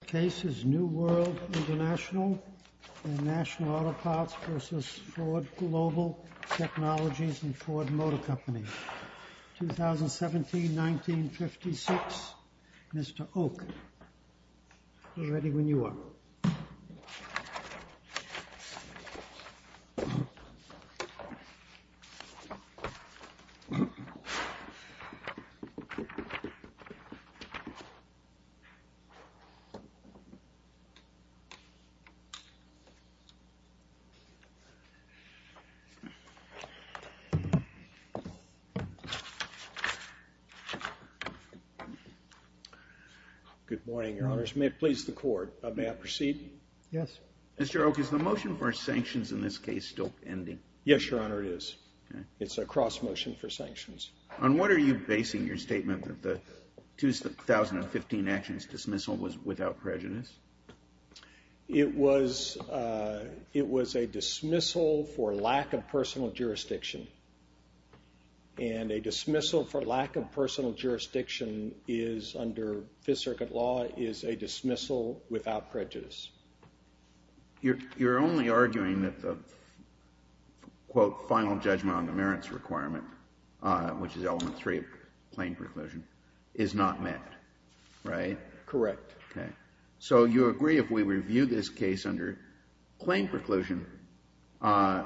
The case is New World International and National Auto Parts v. Ford Global Technologies and Ford Motor Company, 2017-1956. Mr. Oak, get ready when you are. Good morning, Your Honors. May it please the Court, may I proceed? Yes. Mr. Oak, is the motion for sanctions in this case still ending? Yes, Your Honor, it is. It's a cross motion for sanctions. On what are you basing your statement that the 2015 actions dismissal was without prejudice? It was a dismissal for lack of personal jurisdiction. And a dismissal for lack of personal jurisdiction under Fifth Circuit law is a dismissal without prejudice. You're only arguing that the, quote, final judgment on the merits requirement, which is element three of plain preclusion, is not met, right? Correct. Okay. So you agree if we review this case under plain preclusion,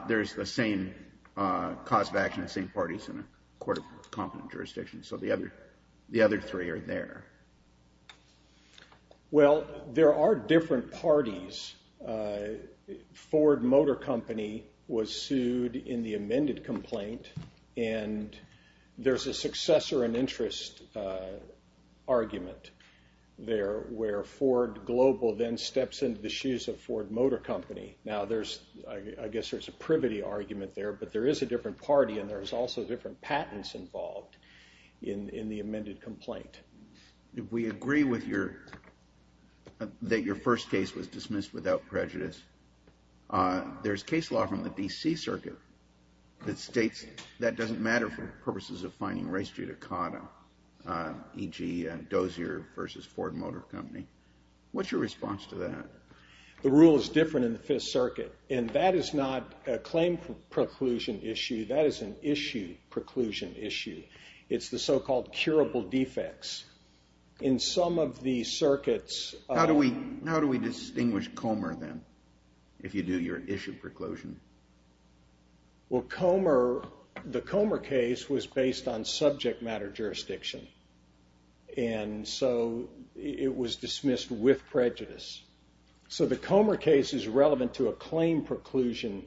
there's the same cause of action, the same parties in a court of competent jurisdiction. So the other three are there. Well, there are different parties. Ford Motor Company was sued in the amended complaint and there's a successor and interest argument there where Ford Global then steps into the shoes of Ford Motor Company. Now there's, I guess there's a privity argument there, but there is a different party and there's also different patents involved in the amended complaint. We agree with your, that your first case was dismissed without prejudice. There's case law from the D.C. Circuit that states that doesn't matter for purposes of fining race judicata, e.g. Dozier versus Ford Motor Company. What's your response to that? The rule is different in the Fifth Circuit and that is not a claim preclusion issue, that is an issue preclusion issue. It's the so-called curable defects. In some of the circuits... How do we distinguish Comer then, if you do your issue preclusion? Well, Comer, the Comer case was based on subject matter jurisdiction and so it was dismissed with prejudice. So the Comer case is relevant to a claim preclusion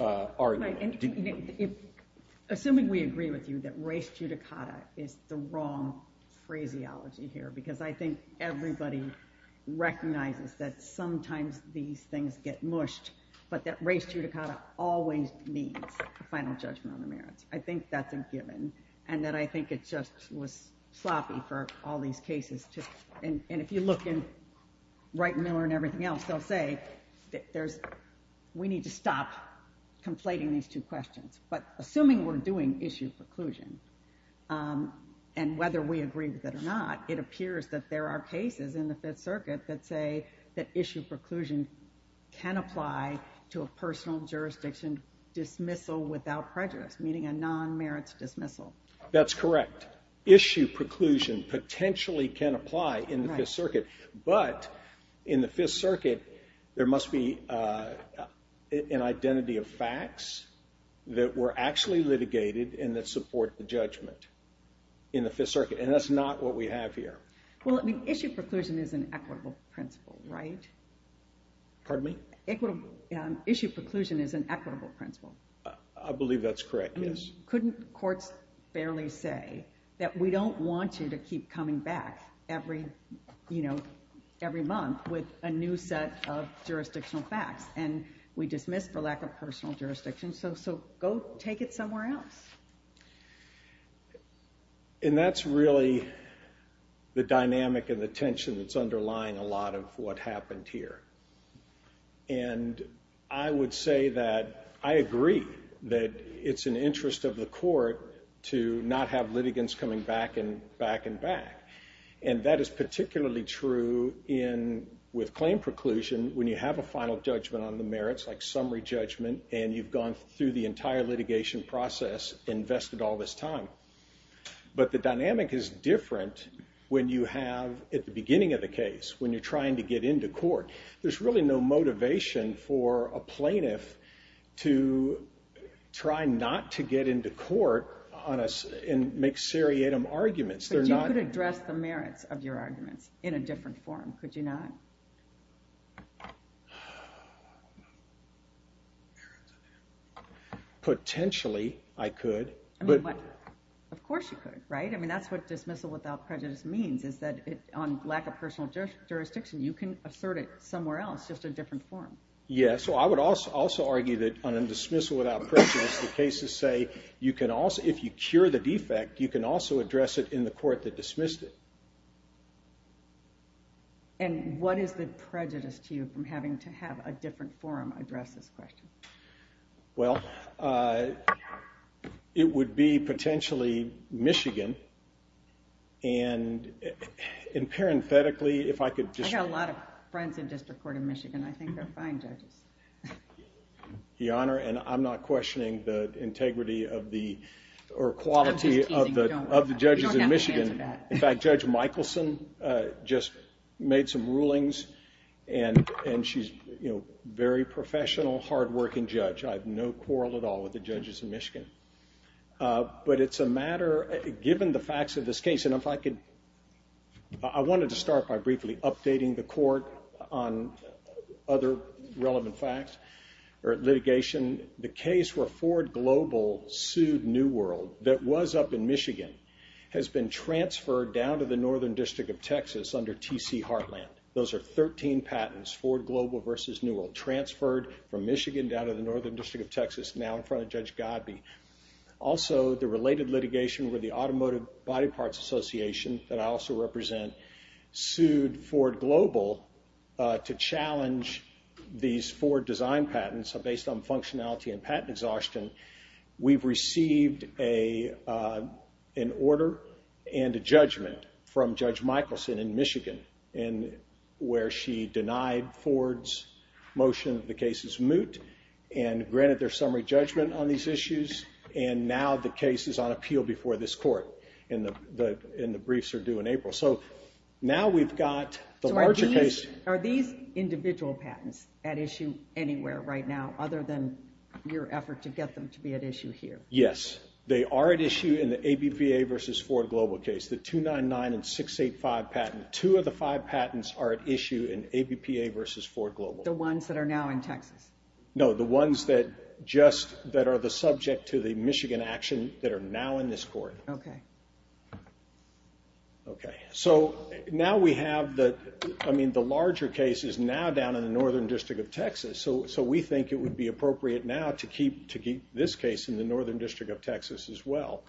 argument. Assuming we agree with you that race judicata is the wrong phraseology here because I think everybody recognizes that sometimes these things get mushed, but that race judicata always needs a final judgment on the merits. I think that's a given and that I think it just was sloppy for all these cases to, and if you look in Wright and Miller and everything else, they'll say that there's, we need to stop conflating these two questions. But assuming we're doing issue preclusion and whether we agree with it or not, it appears that there are cases in the Fifth Circuit that say that issue preclusion can apply to a personal jurisdiction dismissal without prejudice, meaning a non-merits dismissal. That's correct. Issue preclusion potentially can apply in the Fifth Circuit, but in the Fifth Circuit, there must be an identity of facts that were actually litigated and that support the judgment in the Fifth Circuit, and that's not what we have here. Well, issue preclusion is an equitable principle, right? Pardon me? Issue preclusion is an equitable principle. I believe that's correct, yes. Couldn't courts barely say that we don't want you to keep coming back every month with a new set of jurisdictional facts, and we dismiss for lack of personal jurisdiction. So go take it somewhere else. And that's really the dynamic and the tension that's underlying a lot of what happened here. And I would say that I agree that it's an interest of the court to not have litigants coming back and back and back. And that is particularly true with claim preclusion when you have a final judgment on the merits, like summary judgment, and you've gone through the entire litigation process, invested all this time. But the dynamic is different when you have, at the beginning of the case, when you're trying to get into court. There's really no motivation for a plaintiff to try not to get into court and make seriatim arguments. But you could address the merits of your arguments in a different form, could you not? Potentially, I could. Of course you could, right? I mean, that's what dismissal without prejudice means, is that on lack of personal jurisdiction, you can assert it somewhere else, just a different form. Yeah, so I would also argue that on a dismissal without prejudice, the cases say, if you cure the defect, you can also address it in the court that dismissed it. And what is the prejudice to you from having to have a different form address this question? Well, it would be potentially Michigan, and parenthetically, if I could just... I've got a lot of friends in District Court of Michigan. I think they're fine judges. Your Honor, and I'm not questioning the integrity or quality of the judges in Michigan. In fact, Judge Michelson just made some rulings, and she's a very professional, hardworking judge. I have no quarrel at all with the judges in Michigan. But it's a matter, given the facts of this case, and if I could... I wanted to start by briefly updating the court on other relevant facts or litigation. The case where Ford Global sued New World, that was up in Michigan, has been transferred down to the Northern District of Texas under T.C. Heartland. Those are 13 patents, Ford Global versus New World, transferred from Michigan down to the Northern District of Texas, now in front of Judge Godby. Also, the related litigation where the Automotive Body Parts Association, that I also represent, sued Ford Global to challenge these Ford design patents based on functionality and patent exhaustion. We've received an order and a judgment from Judge Michelson in Michigan, where she denied Ford's motion that the case is moot, and granted their summary judgment on these issues. Now the case is on appeal before this court, and the briefs are due in April. Are these individual patents at issue anywhere right now, other than your effort to get them to be at issue here? Yes, they are at issue in the ABPA versus Ford Global case. The 299 and 685 patent, two of the five patents are at issue in ABPA versus Ford Global. The ones that are now in Texas? No, the ones that are the subject to the Michigan action that are now in this court. The larger case is now down in the Northern District of Texas, so we think it would be appropriate now to keep this case in the Northern District of Texas as well.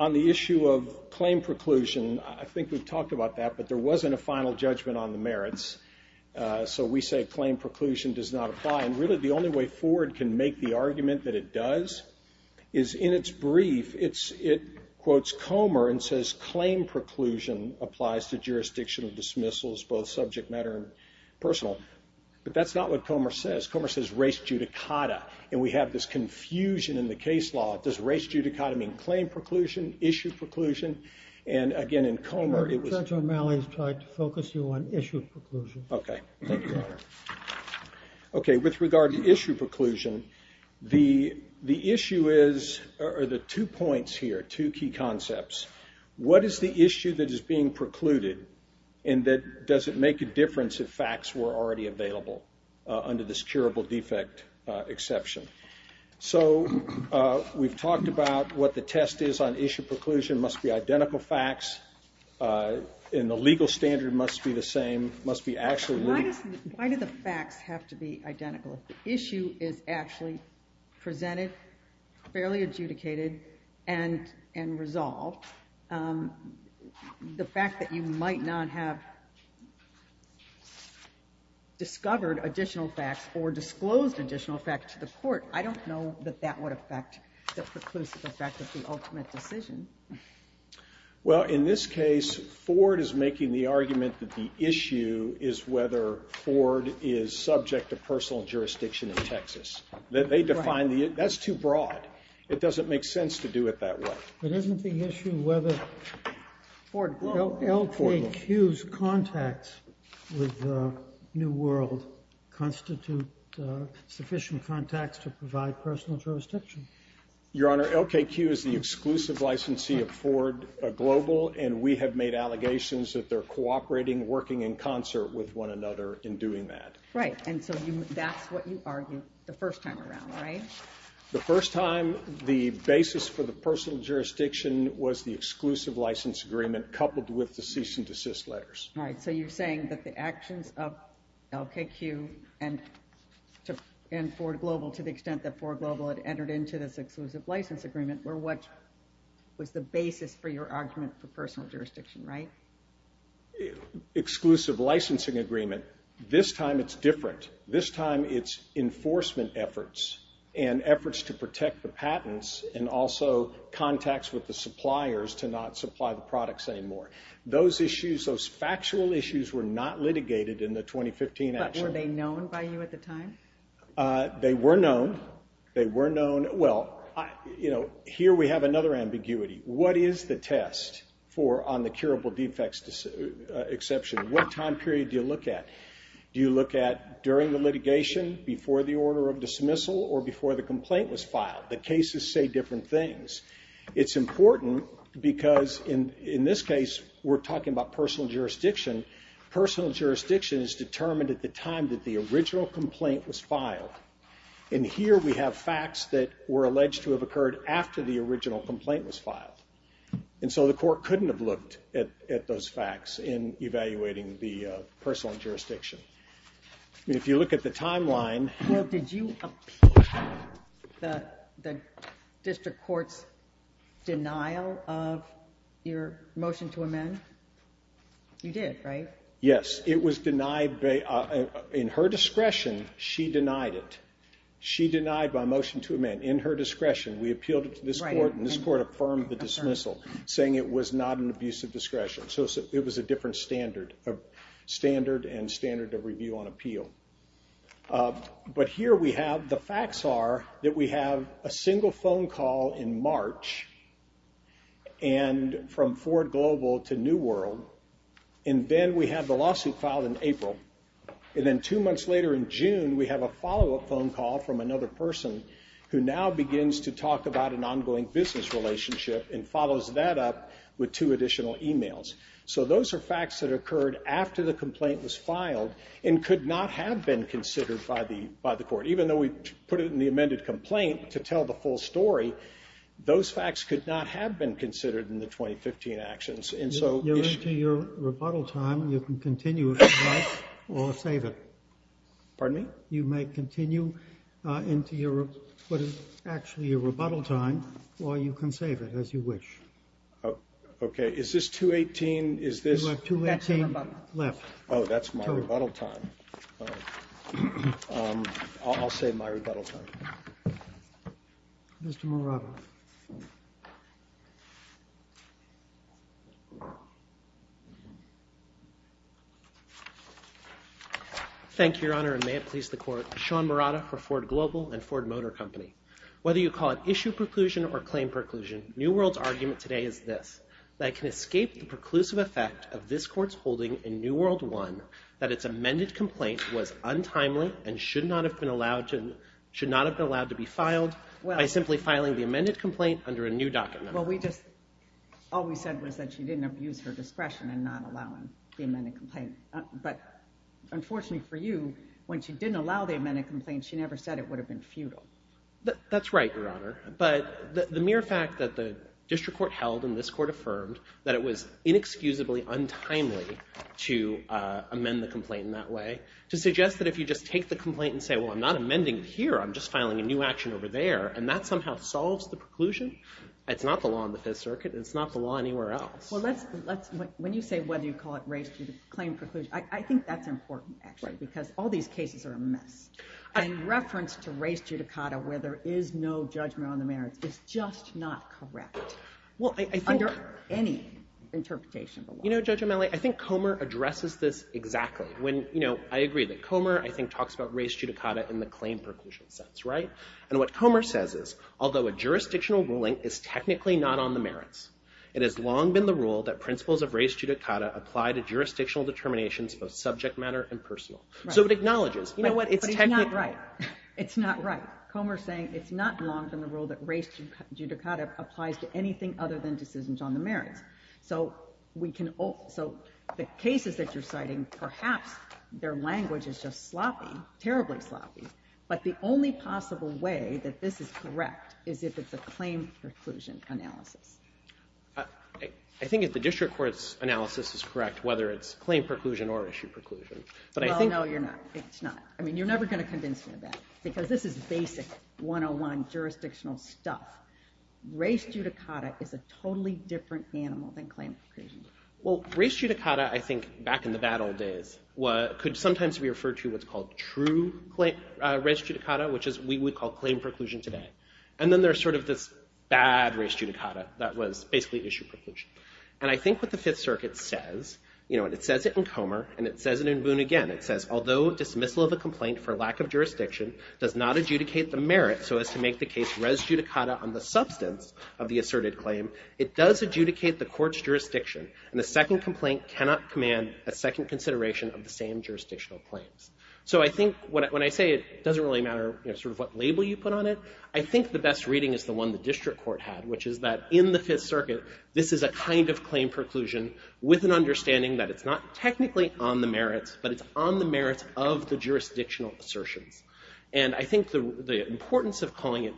On the issue of claim preclusion, I think we've talked about that, but there wasn't a final judgment on the merits, so we say claim preclusion does not apply. Really, the only way Ford can make the argument that it does is in its brief, it quotes Comer and says, claim preclusion applies to jurisdictional dismissals, both subject matter and personal. But that's not what Comer says. Comer says race judicata, and we have this confusion in the case law. Does race judicata mean claim preclusion, issue preclusion? Judge O'Malley has tried to focus you on issue preclusion. Okay, thank you, Your Honor. Okay, with regard to issue preclusion, the issue is, or the two points here, two key concepts. What is the issue that is being precluded, and does it make a difference if facts were already available under this curable defect exception? So, we've talked about what the test is on issue preclusion, must be identical facts, and the legal standard must be the same, must be actually... Why do the facts have to be identical? If the issue is actually presented, fairly adjudicated, and resolved, the fact that you might not have discovered additional facts or disclosed additional facts to the court, I don't know that that would affect the preclusive effect of the ultimate decision. Well, in this case, Ford is making the argument that the issue is whether Ford is subject to personal jurisdiction in Texas. They define the... That's too broad. It doesn't make sense to do it that way. But isn't the issue whether... Ford, go on. LKQ's contacts with New World constitute sufficient contacts to provide personal jurisdiction? Your Honor, LKQ is the exclusive licensee of Ford Global, and we have made allegations that they're cooperating, working in concert with one another in doing that. Right, and so that's what you argued the first time around, right? The first time, the basis for the personal jurisdiction was the exclusive license agreement coupled with the cease and desist letters. All right, so you're saying that the actions of LKQ and Ford Global, to the extent that Ford Global had entered into this exclusive license agreement, were what was the basis for your argument for personal jurisdiction, right? Exclusive licensing agreement. This time it's different. This time it's enforcement efforts and efforts to protect the patents and also contacts with the suppliers to not supply the products anymore. Those issues, those factual issues, were not litigated in the 2015 action. But were they known by you at the time? They were known. They were known. Well, you know, here we have another ambiguity. What is the test for on the curable defects exception? What time period do you look at? Do you look at during the litigation, before the order of dismissal, or before the complaint was filed? The cases say different things. It's important because in this case we're talking about personal jurisdiction. Personal jurisdiction is determined at the time that the original complaint was filed. And here we have facts that were alleged to have occurred after the original complaint was filed. And so the court couldn't have looked at those facts in evaluating the personal jurisdiction. Well, did you appeal the district court's denial of your motion to amend? You did, right? Yes, it was denied. In her discretion, she denied it. She denied my motion to amend. In her discretion, we appealed it to this court, and this court affirmed the dismissal, saying it was not an abuse of discretion. So it was a different standard, a standard and standard of review on appeal. But here we have the facts are that we have a single phone call in March from Ford Global to New World, and then we have the lawsuit filed in April. And then two months later in June, we have a follow-up phone call from another person who now begins to talk about an ongoing business relationship and follows that up with two additional emails. So those are facts that occurred after the complaint was filed and could not have been considered by the court. Even though we put it in the amended complaint to tell the full story, those facts could not have been considered in the 2015 actions. You're into your rebuttal time. You can continue if you'd like or save it. Pardon me? You may continue into what is actually your rebuttal time, or you can save it as you wish. Okay. Is this 218? You have 218 left. Oh, that's my rebuttal time. I'll save my rebuttal time. Mr. Morava. Thank you, Your Honor, and may it please the court. Sean Morava for Ford Global and Ford Motor Company. Whether you call it issue preclusion or claim preclusion, New World's argument today is this, that it can escape the preclusive effect of this court's holding in New World 1 that its amended complaint was untimely and should not have been allowed to be filed by simply filing the amended complaint under a new document. Well, all we said was that she didn't abuse her discretion in not allowing the amended complaint. But unfortunately for you, when she didn't allow the amended complaint, she never said it would have been futile. That's right, Your Honor. But the mere fact that the district court held and this court affirmed that it was inexcusably untimely to amend the complaint in that way, to suggest that if you just take the complaint and say, well, I'm not amending it here, I'm just filing a new action over there, and that somehow solves the preclusion, that's not the law in the Fifth Circuit and it's not the law anywhere else. Well, when you say whether you call it race to claim preclusion, I think that's important, actually, because all these cases are a mess. And reference to race judicata, where there is no judgment on the merits, is just not correct under any interpretation of the law. You know, Judge Amele, I think Comer addresses this exactly. When, you know, I agree that Comer, I think, talks about race judicata in the claim preclusion sense, right? And what Comer says is, although a jurisdictional ruling is technically not on the merits, it has long been the rule that principles of race judicata apply to jurisdictional determinations, both subject matter and personal. So it acknowledges, you know what, it's technically... But it's not right. It's not right. Comer's saying it's not wrong in the rule that race judicata applies to anything other than decisions on the merits. So the cases that you're citing, perhaps their language is just sloppy, terribly sloppy. But the only possible way that this is correct is if it's a claim preclusion analysis. I think if the district court's analysis is correct, whether it's claim preclusion or issue preclusion, but I think... Well, no, you're not. It's not. I mean, you're never going to convince me of that, because this is basic 101 jurisdictional stuff. Race judicata is a totally different animal than claim preclusion. Well, race judicata, I think, back in the bad old days, could sometimes be referred to what's called true race judicata, which we would call claim preclusion today. And then there's sort of this bad race judicata that was basically issue preclusion. And I think what the Fifth Circuit says, you know, and it says it in Comer, and it says it in Boone again, it says, although dismissal of a complaint for lack of jurisdiction does not adjudicate the merit so as to make the case for race judicata on the substance of the asserted claim, it does adjudicate the court's jurisdiction, and a second complaint cannot command a second consideration of the same jurisdictional claims. So I think when I say it doesn't really matter sort of what label you put on it, I think the best reading is the one the district court had, which is that in the Fifth Circuit, this is a kind of claim preclusion with an understanding that it's not technically on the merits, but it's on the merits of the jurisdictional assertions. And I think the importance of calling it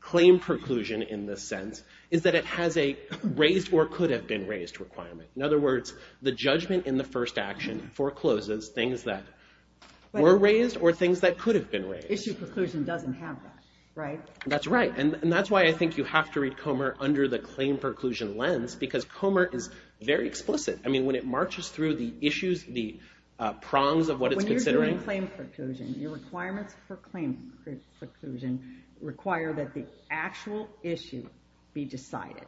claim preclusion in this sense is that it has a raised or could have been raised requirement. In other words, the judgment in the first action forecloses things that were raised or things that could have been raised. Issue preclusion doesn't have that, right? That's right, and that's why I think you have to read Comer under the claim preclusion lens, because Comer is very explicit. I mean, when it marches through the issues, the prongs of what it's considering... ...require that the actual issue be decided,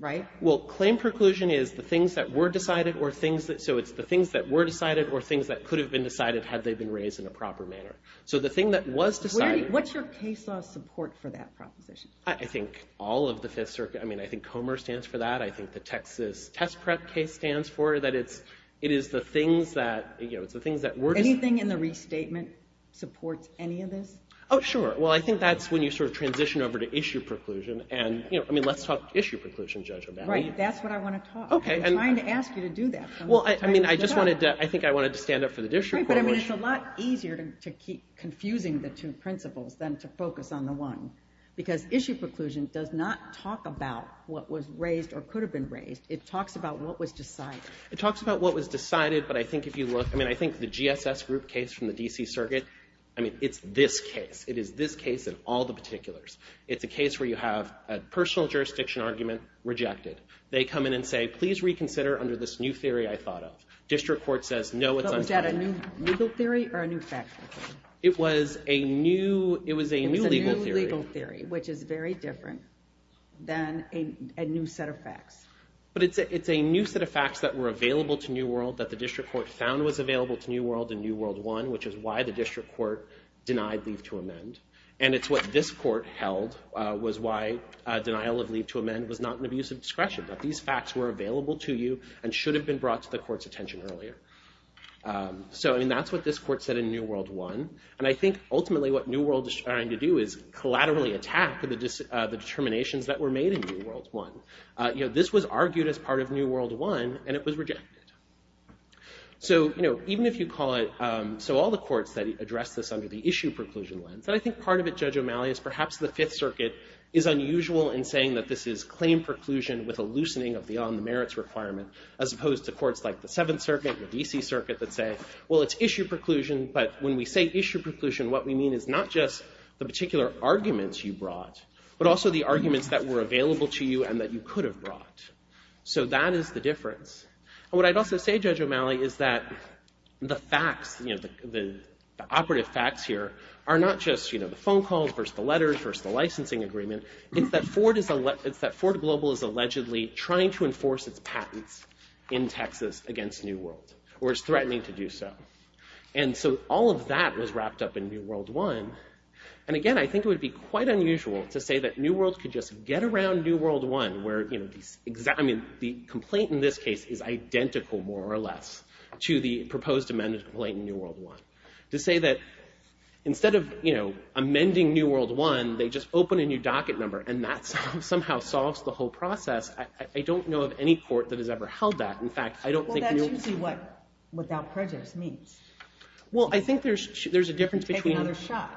right? Well, claim preclusion is the things that were decided or things... So it's the things that were decided or things that could have been decided had they been raised in a proper manner. So the thing that was decided... What's your case law support for that proposition? I think all of the Fifth Circuit... I mean, I think Comer stands for that. I think the Texas test prep case stands for that. It is the things that... Anything in the restatement supports any of this? Oh, sure. Well, I think that's when you sort of transition over to issue preclusion. I mean, let's talk issue preclusion judgment. Right, that's what I want to talk about. I'm trying to ask you to do that. I think I wanted to stand up for the district court. Right, but it's a lot easier to keep confusing the two principles than to focus on the one, because issue preclusion does not talk about what was raised or could have been raised. It talks about what was decided. It talks about what was decided, but I think if you look... If you look at the USS Group case from the D.C. Circuit, I mean, it's this case. It is this case in all the particulars. It's a case where you have a personal jurisdiction argument rejected. They come in and say, please reconsider under this new theory I thought of. District court says, no, it's untimely. Was that a new legal theory or a new fact theory? It was a new legal theory. It was a new legal theory, which is very different than a new set of facts. But it's a new set of facts that were available to New World that the district court found was available to New World in New World I, which is why the district court denied leave to amend. And it's what this court held was why denial of leave to amend was not an abusive discretion, that these facts were available to you and should have been brought to the court's attention earlier. So, I mean, that's what this court said in New World I. And I think, ultimately, what New World is trying to do is collaterally attack the determinations that were made in New World I. This was argued as part of New World I, and it was rejected. So, you know, even if you call it... So all the courts that address this under the issue preclusion lens, and I think part of it, Judge O'Malley, is perhaps the Fifth Circuit is unusual in saying that this is claim preclusion with a loosening of the on-the-merits requirement, as opposed to courts like the Seventh Circuit, the D.C. Circuit, that say, well, it's issue preclusion, but when we say issue preclusion, what we mean is not just the particular arguments you brought, but also the arguments that were available to you and that you could have brought. So that is the difference. And what I'd also say, Judge O'Malley, is that the facts, the operative facts here, are not just the phone calls versus the letters versus the licensing agreement. It's that Ford Global is allegedly trying to enforce its patents in Texas against New World, or is threatening to do so. And so all of that was wrapped up in New World I. And again, I think it would be quite unusual to say that New World could just get around New World I, where the complaint in this case is identical, more or less, to the proposed amendment complaint in New World I. To say that instead of amending New World I, they just open a new docket number, and that somehow solves the whole process, I don't know of any court that has ever held that. In fact, I don't think... Well, that's usually what without prejudice means. Well, I think there's a difference between... Take another shot.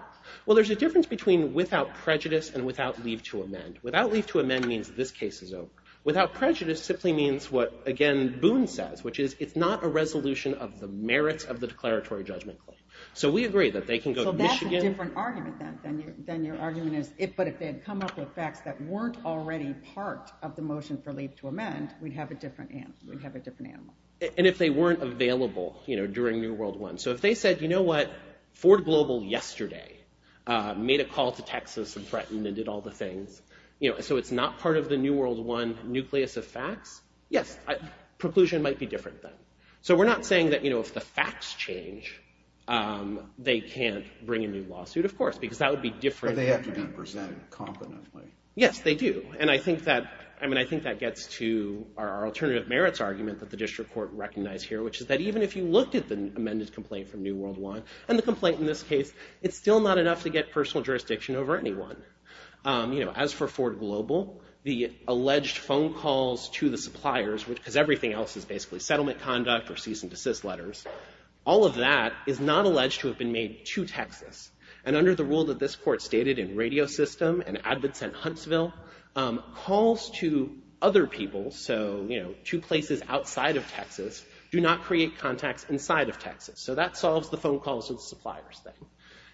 Well, there's a difference between without prejudice and without leave to amend. Without leave to amend means this case is over. Without prejudice simply means what, again, Boone says, which is it's not a resolution of the merits of the declaratory judgment claim. So we agree that they can go to Michigan... So that's a different argument than your argument is, but if they had come up with facts that weren't already part of the motion for leave to amend, we'd have a different animal. And if they weren't available during New World I. So if they said, you know what, Ford Global yesterday made a call to Texas and threatened and did all the things, so it's not part of the New World I nucleus of facts, yes, preclusion might be different then. So we're not saying that if the facts change, they can't bring a new lawsuit, of course, because that would be different... But they have to be presented competently. Yes, they do. And I think that gets to our alternative merits argument that the district court recognized here, which is that even if you looked at the amended complaint from New World I, and the complaint in this case, it's still not enough to get personal jurisdiction over anyone. As for Ford Global, the alleged phone calls to the suppliers, because everything else is basically settlement conduct or cease and desist letters, all of that is not alleged to have been made to Texas. And under the rule that this court stated in Radio System and Advance and Huntsville, calls to other people, so to places outside of Texas, do not create contacts inside of Texas. So that solves the phone calls to the suppliers thing.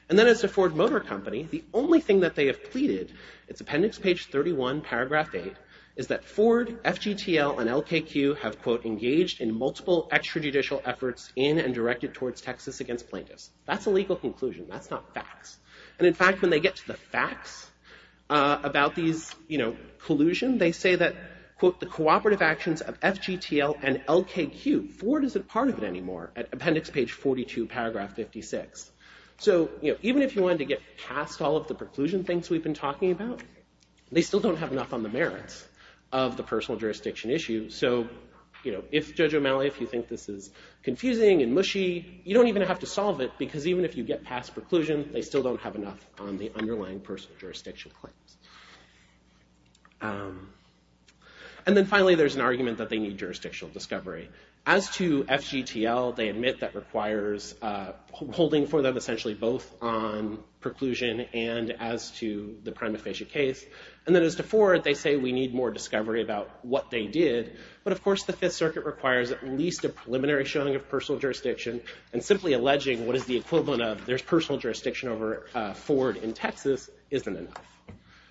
And then as a Ford Motor Company, the only thing that they have pleaded, it's appendix page 31, paragraph 8, is that Ford, FGTL, and LKQ have, quote, engaged in multiple extrajudicial efforts in and directed towards Texas against plaintiffs. That's a legal conclusion. That's not facts. And in fact, when they get to the facts about these collusion, they say that, quote, the cooperative actions of FGTL and LKQ, Ford isn't part of it anymore, at appendix page 42, paragraph 56. So even if you wanted to get past all of the preclusion things we've been talking about, they still don't have enough on the merits of the personal jurisdiction issue. So if, Judge O'Malley, if you think this is confusing and mushy, you don't even have to solve it because even if you get past preclusion, they still don't have enough on the underlying personal jurisdiction claims. And then finally, there's an argument that they need jurisdictional discovery. As to FGTL, they admit that requires holding for them essentially both on preclusion and as to the prima facie case. And then as to Ford, they say we need more discovery about what they did. But of course, the Fifth Circuit requires at least a preliminary showing of personal jurisdiction and simply alleging what is the equivalent of there's personal jurisdiction over Ford in Texas isn't enough.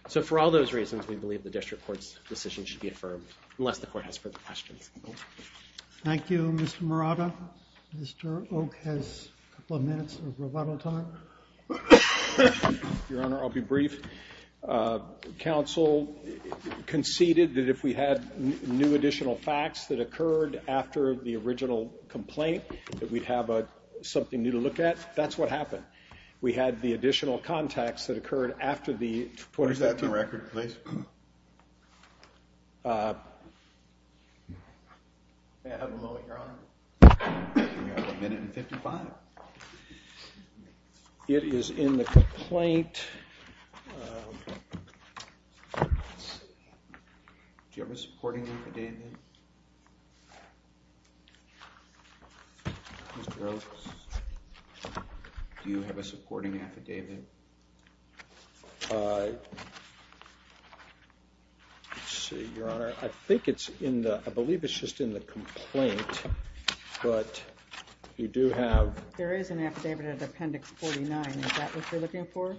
So for all those reasons, we believe the district court's decision should be affirmed unless the court has further questions. Thank you, Mr. Murata. Mr. Oak has a couple of minutes of rebuttal time. Your Honor, I'll be brief. Counsel conceded that if we had new additional facts that occurred after the original complaint, that we'd have something new to look at. That's what happened. We had the additional contacts that occurred after the- What is that, the record, please? May I have a moment, Your Honor? You have a minute and 55. It is in the complaint. Do you have a supporting affidavit? Do you have a supporting affidavit? Let's see, Your Honor. I think it's in the- I believe it's just in the complaint, but you do have- There is an affidavit at Appendix 49. Is that what you're looking for?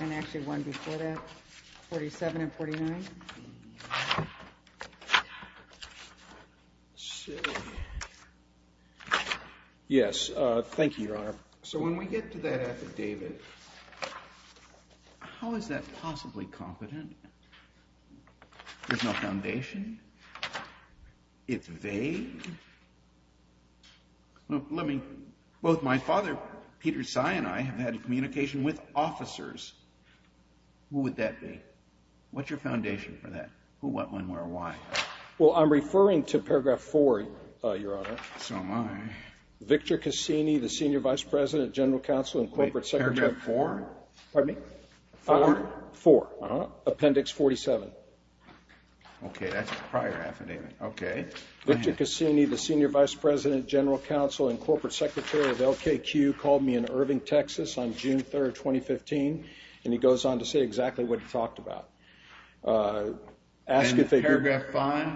And actually one before that? 47 and 49? Yes. Thank you, Your Honor. So when we get to that affidavit, how is that possibly competent? There's no foundation? It's vague? Let me- Both my father, Peter Tsai, and I have had communication with officers. Who would that be? What's your foundation for that? Who, what, when, where, why? Well, I'm referring to Paragraph 4, Your Honor. So am I. Victor Cassini, the Senior Vice President, General Counsel, and Corporate Secretary- Wait, Paragraph 4? Pardon me? 4. 4. Uh-huh. Appendix 47. Okay, that's a prior affidavit. Okay. Victor Cassini, the Senior Vice President, General Counsel, and Corporate Secretary of LKQ called me in Irving, Texas on June 3rd, 2015, and he goes on to say exactly what he talked about. And Paragraph 5?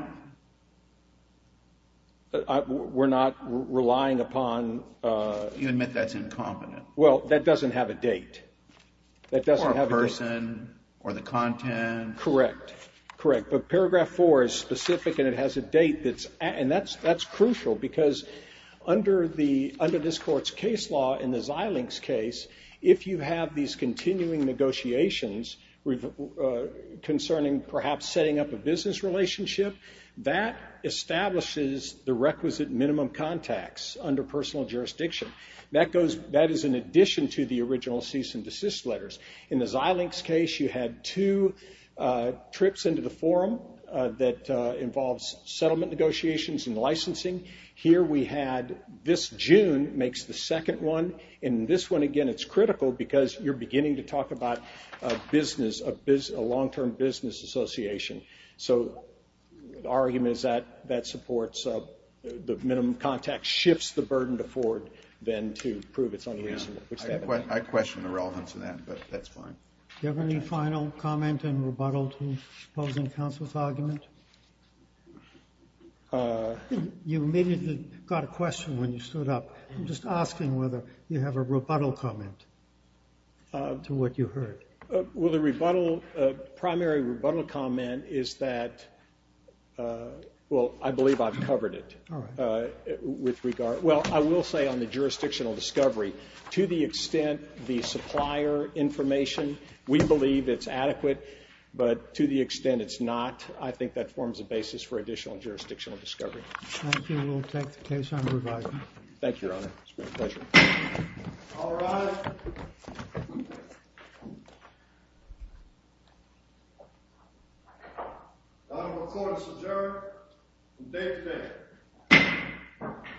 We're not relying upon- You admit that's incompetent. Well, that doesn't have a date. That doesn't have- Or a person, or the content. Correct. Correct, but Paragraph 4 is specific and it has a date that's, and that's crucial because under this court's case law, in the Xilinx case, if you have these continuing negotiations concerning perhaps setting up a business relationship, that establishes the requisite minimum contacts under personal jurisdiction. That goes, that is in addition to the original cease and desist letters. In the Xilinx case, you had two trips into the forum that involves settlement negotiations and licensing. Here we had, this June makes the second one, and this one, again, it's critical because you're beginning to talk about a business, a long-term business association. So, the argument is that that supports the minimum contact shifts the burden to Ford than to prove it's unreasonable. I question the relevance of that, but that's fine. Do you have any final comment and rebuttal to opposing counsel's argument? You immediately got a question when you stood up. I'm just asking whether you have a rebuttal comment to what you heard. Well, the rebuttal, primary rebuttal comment is that, well, I believe I've covered it. All right. With regard, well, I will say on the jurisdictional discovery, to the extent the supplier information, we believe it's adequate, but to the extent it's not, I think that forms a basis for additional jurisdictional discovery. Thank you. We'll take the case on revising. Thank you, Your Honor. It's been a pleasure. All rise. The court is adjourned. Date today.